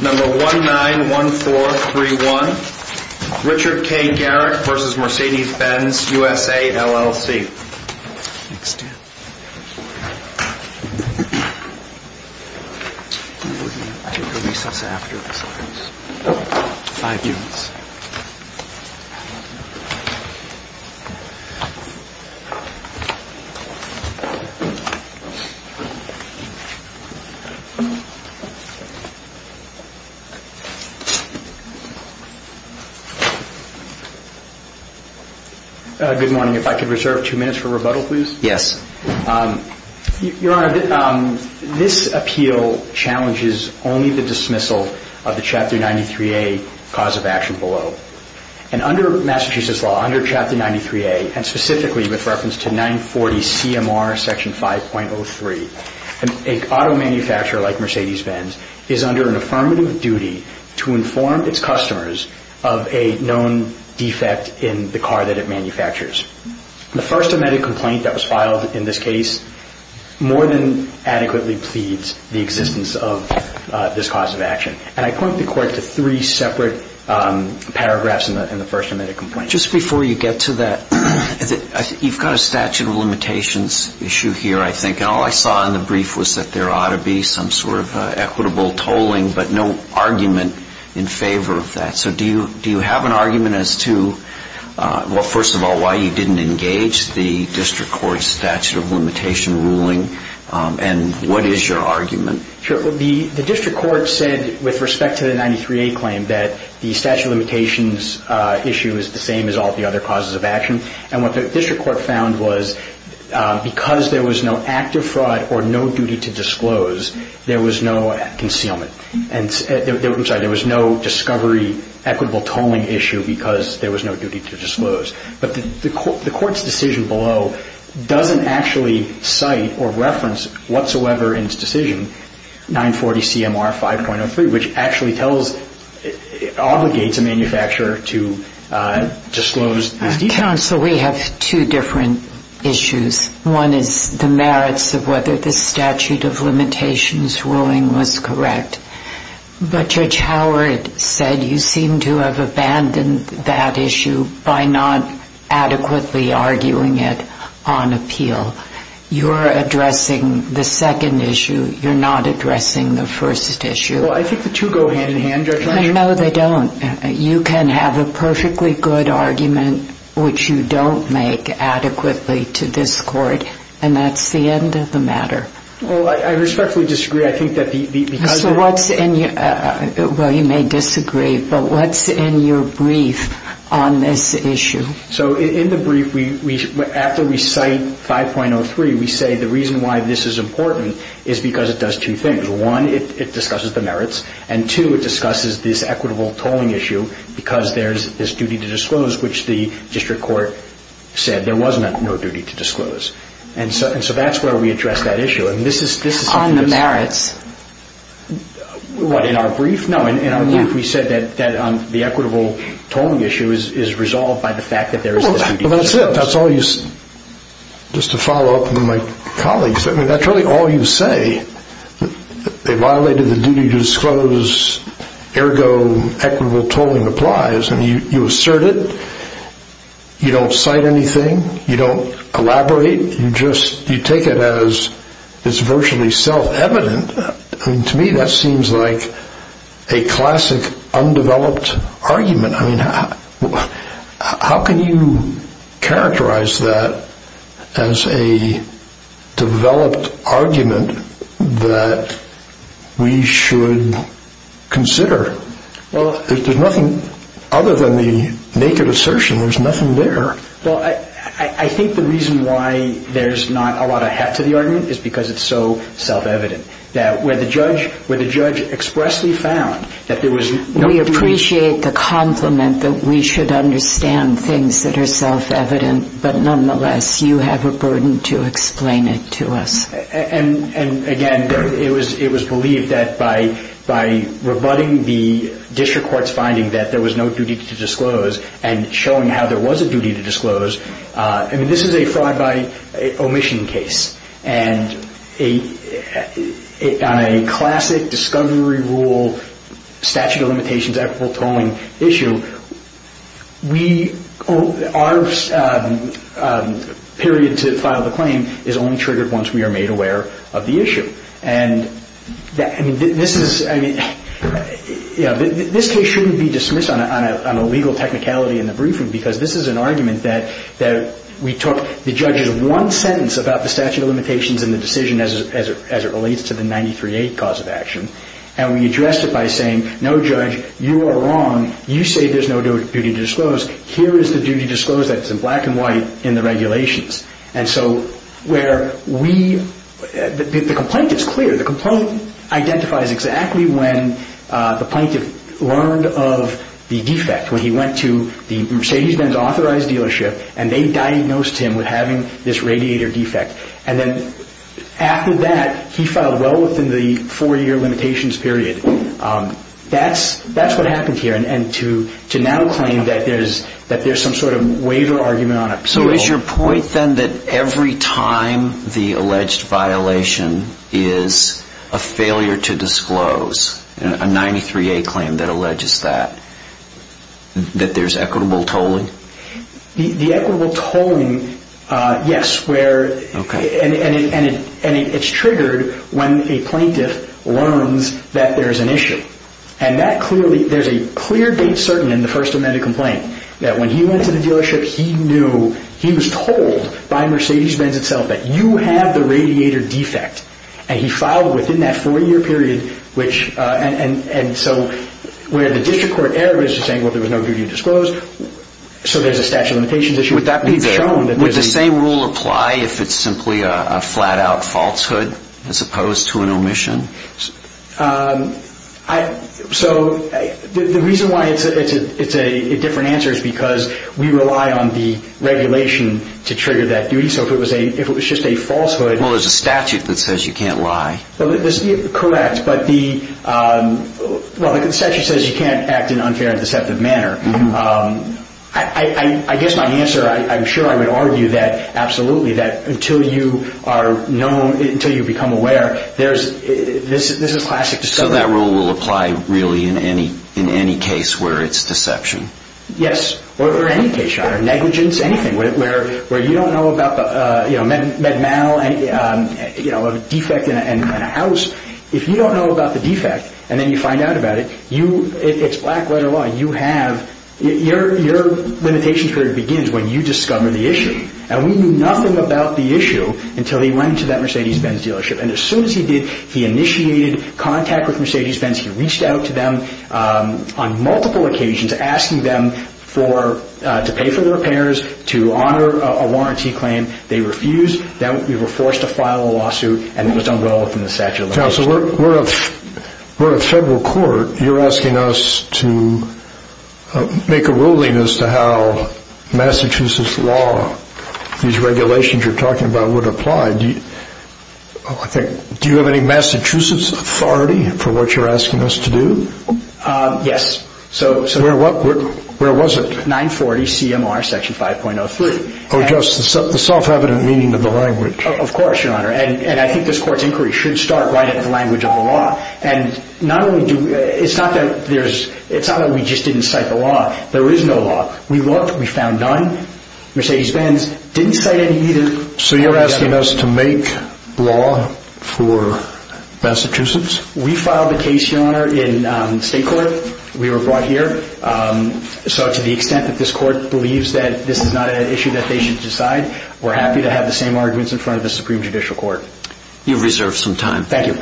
Number 191431, Richard K. Garrick v. Mercedes-Benz USA, LLC Good morning. If I could reserve two minutes for rebuttal, please. Yes. Your Honor, this appeal challenges only the dismissal of the Chapter 93A cause of action below. And under Massachusetts law, under Chapter 93A, and specifically with reference to 940 CMR Section 5.03, an auto manufacturer like Mercedes-Benz is under an affirmative duty to inform its customers of a known defect in the car that it manufactures. The first amended complaint that was filed in this case more than adequately pleads the existence of this cause of action. And I point the Court to three separate paragraphs in the first amended complaint. Just before you get to that, you've got a statute of limitations issue here, I think. And all I saw in the brief was that there ought to be some sort of equitable tolling, but no argument in favor of that. So do you have an argument as to, well, first of all, why you didn't engage the District Court's statute of limitation ruling? And what is your argument? Sure. The District Court said with respect to the 93A claim that the statute of limitations issue is the same as all the other causes of action. And what the District Court found was because there was no active fraud or no duty to disclose, there was no concealment. I'm sorry, there was no discovery equitable tolling issue because there was no duty to disclose. But the Court's decision below doesn't actually cite or reference whatsoever in its decision 940CMR 5.03, which actually obligates a manufacturer to disclose these details. Counsel, we have two different issues. One is the merits of whether the statute of limitations ruling was correct. But Judge Howard said you seem to have abandoned that issue by not adequately arguing it on appeal. You're addressing the second issue. You're not addressing the first issue. Well, I think the two go hand in hand, Judge Lynch. No, they don't. You can have a perfectly good argument which you don't make adequately to this Court, and that's the end of the matter. Well, I respectfully disagree. Well, you may disagree, but what's in your brief on this issue? So in the brief, after we cite 5.03, we say the reason why this is important is because it does two things. One, it discusses the merits. And two, it discusses this equitable tolling issue because there's this duty to disclose, which the District Court said there was no duty to disclose. And so that's where we address that issue. On the merits? What, in our brief? No, in our brief we said that the equitable tolling issue is resolved by the fact that there is this duty to disclose. Well, that's it. That's all you say. Just to follow up with my colleagues, that's really all you say. They violated the duty to disclose, ergo equitable tolling applies. And you assert it. You don't cite anything. You don't elaborate. You just take it as it's virtually self-evident. To me, that seems like a classic undeveloped argument. I mean, how can you characterize that as a developed argument that we should consider? Well, there's nothing other than the naked assertion. There's nothing there. Well, I think the reason why there's not a lot of heft to the argument is because it's so self-evident, that where the judge expressly found that there was no duty to disclose. We appreciate the compliment that we should understand things that are self-evident, but nonetheless you have a burden to explain it to us. And, again, it was believed that by rebutting the District Court's finding that there was no duty to disclose and showing how there was a duty to disclose. I mean, this is a fraud by omission case. And on a classic discovery rule statute of limitations equitable tolling issue, our period to file the claim is only triggered once we are made aware of the issue. I mean, this case shouldn't be dismissed on a legal technicality in the briefing because this is an argument that we took the judge's one sentence about the statute of limitations and the decision as it relates to the 938 cause of action, and we addressed it by saying, no, Judge, you are wrong. You say there's no duty to disclose. Here is the duty to disclose that's in black and white in the regulations. And so where we – the complaint is clear. The complaint identifies exactly when the plaintiff learned of the defect, when he went to the Mercedes-Benz authorized dealership and they diagnosed him with having this radiator defect. And then after that, he filed well within the four-year limitations period. That's what happened here. And to now claim that there's some sort of waiver argument on it. So is your point then that every time the alleged violation is a failure to disclose, a 938 claim that alleges that, that there's equitable tolling? The equitable tolling, yes, where – and it's triggered when a plaintiff learns that there's an issue. And that clearly – there's a clear date certain in the First Amendment complaint that when he went to the dealership, he knew – he was told by Mercedes-Benz itself that you have the radiator defect, and he filed within that four-year period, which – and so where the district court error is to say, well, there was no duty to disclose, so there's a statute of limitations issue. Would that be there? We've shown that there's a – Would the same rule apply if it's simply a flat-out falsehood as opposed to an omission? So the reason why it's a different answer is because we rely on the regulation to trigger that duty. So if it was just a falsehood – Well, there's a statute that says you can't lie. Correct. But the – well, the statute says you can't act in an unfair and deceptive manner. I guess my answer – I'm sure I would argue that absolutely, that until you are known – So that rule will apply really in any case where it's deception? Yes, or any case, Your Honor, negligence, anything. Where you don't know about the, you know, med mal, you know, a defect in a house. If you don't know about the defect and then you find out about it, you – it's black-letter law. You have – your limitation period begins when you discover the issue. And we knew nothing about the issue until he went to that Mercedes-Benz dealership. And as soon as he did, he initiated contact with Mercedes-Benz. He reached out to them on multiple occasions asking them for – to pay for the repairs, to honor a warranty claim. They refused. Then we were forced to file a lawsuit, and it was done well within the statute of limitations. Counsel, we're a federal court. You're asking us to make a ruling as to how Massachusetts law, these regulations you're talking about, would apply. Do you have any Massachusetts authority for what you're asking us to do? Yes. Where was it? 940 CMR Section 5.03. Oh, just the self-evident meaning of the language. Of course, Your Honor. And I think this court's inquiry should start right at the language of the law. And not only do – it's not that there's – it's not that we just didn't cite the law. There is no law. We looked. We found none. Mercedes-Benz didn't cite any either. So you're asking us to make law for Massachusetts? We filed a case, Your Honor, in state court. We were brought here. So to the extent that this court believes that this is not an issue that they should decide, we're happy to have the same arguments in front of the Supreme Judicial Court. You've reserved some time. Thank you.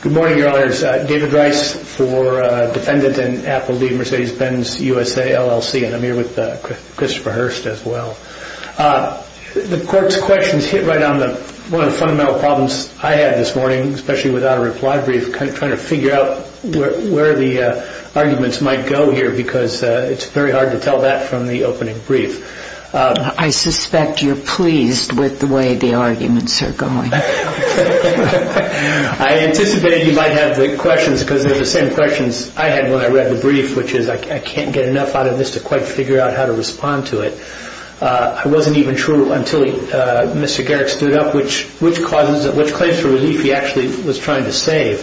Good morning, Your Honors. David Rice for defendant in Apple v. Mercedes-Benz USA LLC. And I'm here with Christopher Hurst as well. The court's questions hit right on one of the fundamental problems I had this morning, especially without a reply brief, trying to figure out where the arguments might go here because it's very hard to tell that from the opening brief. I suspect you're pleased with the way the arguments are going. I anticipated you might have the questions because they're the same questions I had when I read the brief, which is I can't get enough out of this to quite figure out how to respond to it. It wasn't even true until Mr. Garrick stood up which claims for relief he actually was trying to save.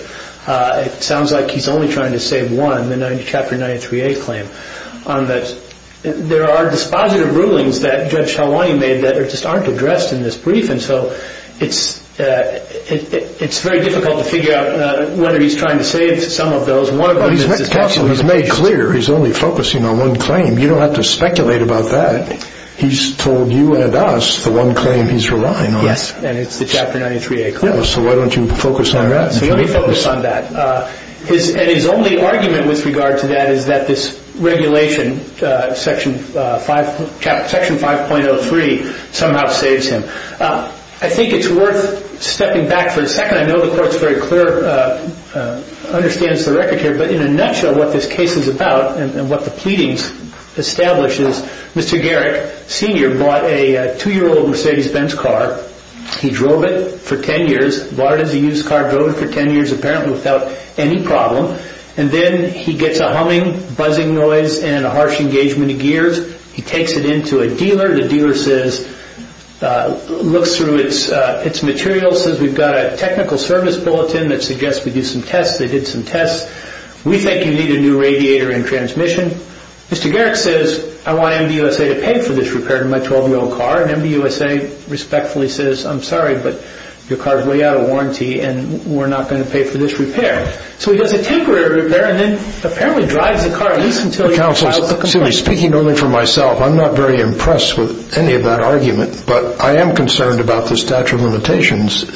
It sounds like he's only trying to save one, the Chapter 93A claim. There are dispositive rulings that Judge Helwani made that just aren't addressed in this brief, and so it's very difficult to figure out whether he's trying to save some of those. Well, his counsel has made clear he's only focusing on one claim. You don't have to speculate about that. He's told you and us the one claim he's relying on. Yes, and it's the Chapter 93A claim. So why don't you focus on that? His only argument with regard to that is that this regulation, Section 5.03, somehow saves him. I think it's worth stepping back for a second. I know the Court's very clear, understands the record here, but in a nutshell what this case is about and what the pleadings establish is Mr. Garrick, Sr., bought a 2-year-old Mercedes-Benz car. He drove it for 10 years. Where does a used car go for 10 years, apparently without any problem? And then he gets a humming, buzzing noise, and a harsh engagement of gears. He takes it into a dealer. The dealer says, looks through its materials, says, we've got a technical service bulletin that suggests we do some tests. They did some tests. We think you need a new radiator and transmission. Mr. Garrick says, I want MDUSA to pay for this repair to my 12-year-old car. And MDUSA respectfully says, I'm sorry, but your car is way out of warranty, and we're not going to pay for this repair. So he does a temporary repair and then apparently drives the car at least until he files a complaint. Excuse me. Speaking only for myself, I'm not very impressed with any of that argument, but I am concerned about the statute of limitations,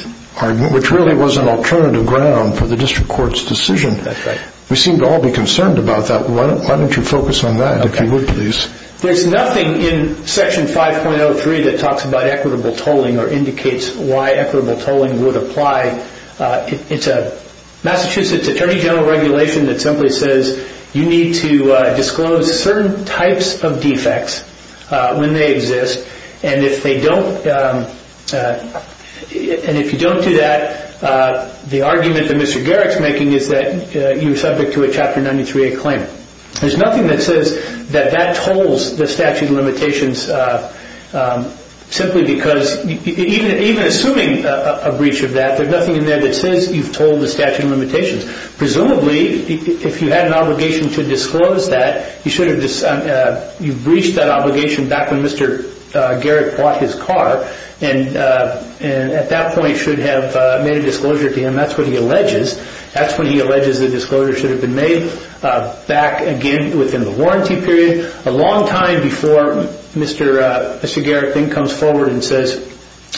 which really was an alternative ground for the district court's decision. That's right. We seem to all be concerned about that. Why don't you focus on that, if you would, please? There's nothing in Section 5.03 that talks about equitable tolling or indicates why equitable tolling would apply. It's a Massachusetts Attorney General regulation that simply says you need to disclose certain types of defects when they exist, and if you don't do that, the argument that Mr. Garrick is making is that you're subject to a Chapter 93A claim. There's nothing that says that that tolls the statute of limitations simply because even assuming a breach of that, there's nothing in there that says you've tolled the statute of limitations. Presumably, if you had an obligation to disclose that, you breached that obligation back when Mr. Garrick bought his car and at that point should have made a disclosure to him. That's what he alleges. That's when he alleges the disclosure should have been made, back again within the warranty period, a long time before Mr. Garrick then comes forward and says,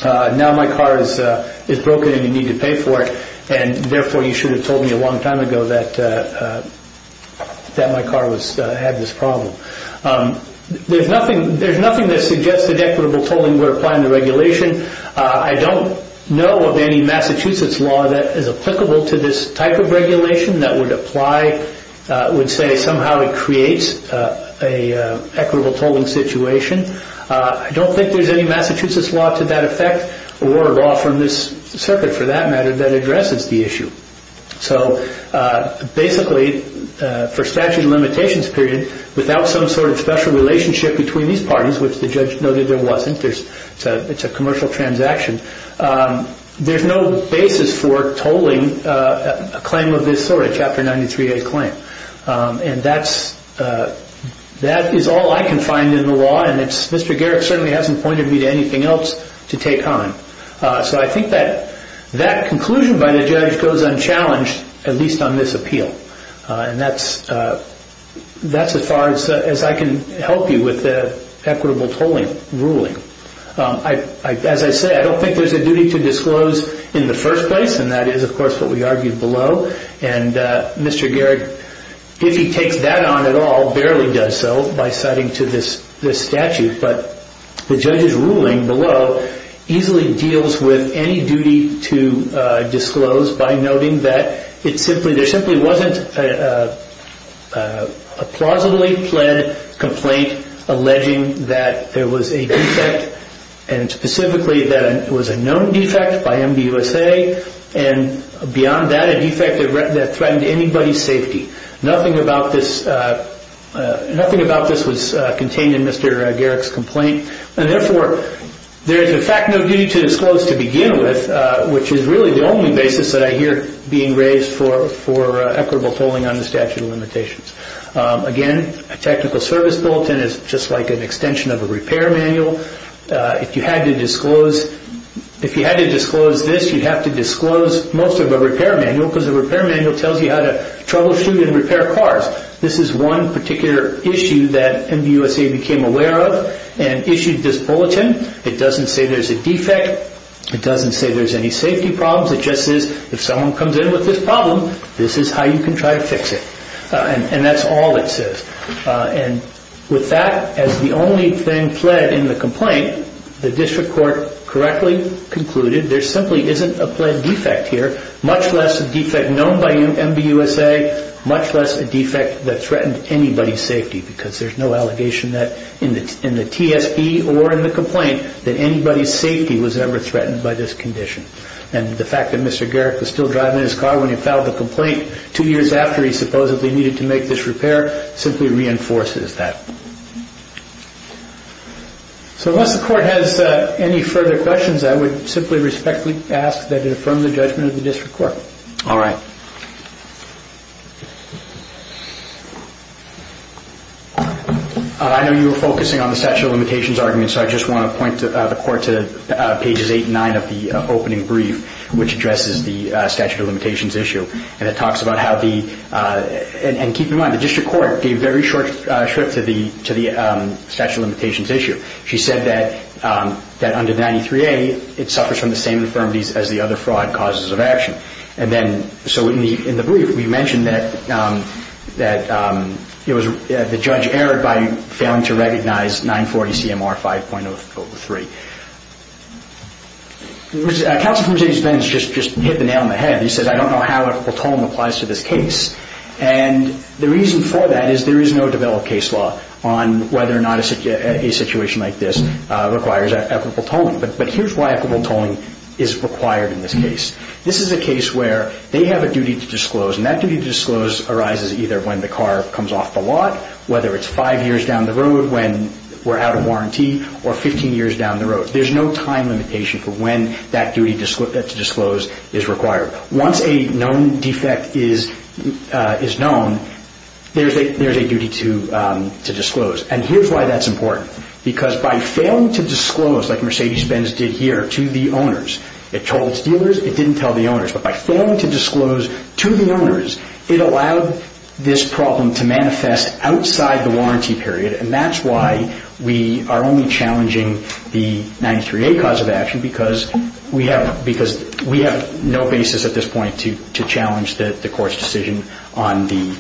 now my car is broken and you need to pay for it, and therefore you should have told me a long time ago that my car had this problem. There's nothing that suggests that equitable tolling would apply in the regulation. I don't know of any Massachusetts law that is applicable to this type of regulation that would apply, would say somehow it creates an equitable tolling situation. I don't think there's any Massachusetts law to that effect or law from this circuit for that matter that addresses the issue. Basically, for statute of limitations period, without some sort of special relationship between these parties, which the judge noted there wasn't, it's a commercial transaction, there's no basis for tolling a claim of this sort, a Chapter 93A claim. That is all I can find in the law, and Mr. Garrick certainly hasn't pointed me to anything else to take on. So I think that conclusion by the judge goes unchallenged, at least on this appeal. That's as far as I can help you with the equitable tolling ruling. As I said, I don't think there's a duty to disclose in the first place, and that is of course what we argued below, and Mr. Garrick, if he takes that on at all, barely does so by citing to this statute. But the judge's ruling below easily deals with any duty to disclose by noting that there simply wasn't a plausibly pled complaint alleging that there was a defect, and specifically that it was a known defect by MDUSA, and beyond that, a defect that threatened anybody's safety. Nothing about this was contained in Mr. Garrick's complaint, and therefore there is in fact no duty to disclose to begin with, which is really the only basis that I hear being raised for equitable tolling under statute of limitations. Again, a technical service bulletin is just like an extension of a repair manual. If you had to disclose this, you'd have to disclose most of a repair manual because a repair manual tells you how to troubleshoot and repair cars. This is one particular issue that MDUSA became aware of and issued this bulletin. It doesn't say there's a defect. It doesn't say there's any safety problems. It just says if someone comes in with this problem, this is how you can try to fix it, and that's all it says. With that, as the only thing pled in the complaint, the district court correctly concluded there simply isn't a pled defect here, much less a defect known by MDUSA, much less a defect that threatened anybody's safety because there's no allegation in the TSP or in the complaint that anybody's safety was ever threatened by this condition. The fact that Mr. Garrick was still driving his car when he filed the complaint two years after he supposedly needed to make this repair simply reinforces that. Once the court has any further questions, I would simply respectfully ask that it affirm the judgment of the district court. All right. I know you were focusing on the statute of limitations argument, so I just want to point the court to pages 8 and 9 of the opening brief, which addresses the statute of limitations issue. Keep in mind, the district court gave very short shrift to the statute of limitations issue. She said that under 93A, it suffers from the same infirmities as the other fraud causes of action. So in the brief, we mentioned that the judge erred by failing to recognize 940CMR 5.03. Counsel for Mercedes Benz just hit the nail on the head. He said, I don't know how a platoon applies to this case. And the reason for that is there is no developed case law on whether or not a situation like this requires equitable tolling. But here's why equitable tolling is required in this case. This is a case where they have a duty to disclose, and that duty to disclose arises either when the car comes off the lot, whether it's five years down the road when we're out of warranty, or 15 years down the road. There's no time limitation for when that duty to disclose is required. Once a known defect is known, there's a duty to disclose. And here's why that's important. Because by failing to disclose, like Mercedes Benz did here, to the owners, it told its dealers, it didn't tell the owners. But by failing to disclose to the owners, it allowed this problem to manifest outside the warranty period. And that's why we are only challenging the 93A cause of action, because we have no basis at this point to challenge the court's decision on the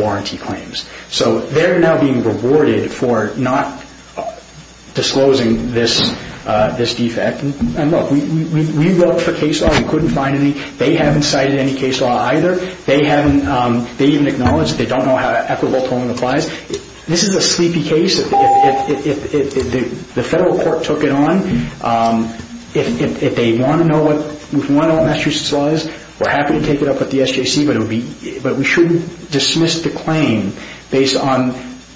warranty claims. So they're now being rewarded for not disclosing this defect. And look, we looked for case law. We couldn't find any. They haven't cited any case law either. They even acknowledged they don't know how equitable tolling applies. This is a sleepy case. If the federal court took it on, if they want to know what Massachusetts law is, we're happy to take it up with the SJC, but we shouldn't dismiss the claim based on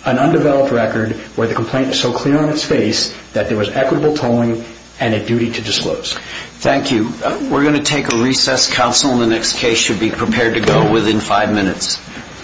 an undeveloped record where the complaint is so clear on its face that there was equitable tolling and a duty to disclose. Thank you. We're going to take a recess. Counsel in the next case should be prepared to go within five minutes.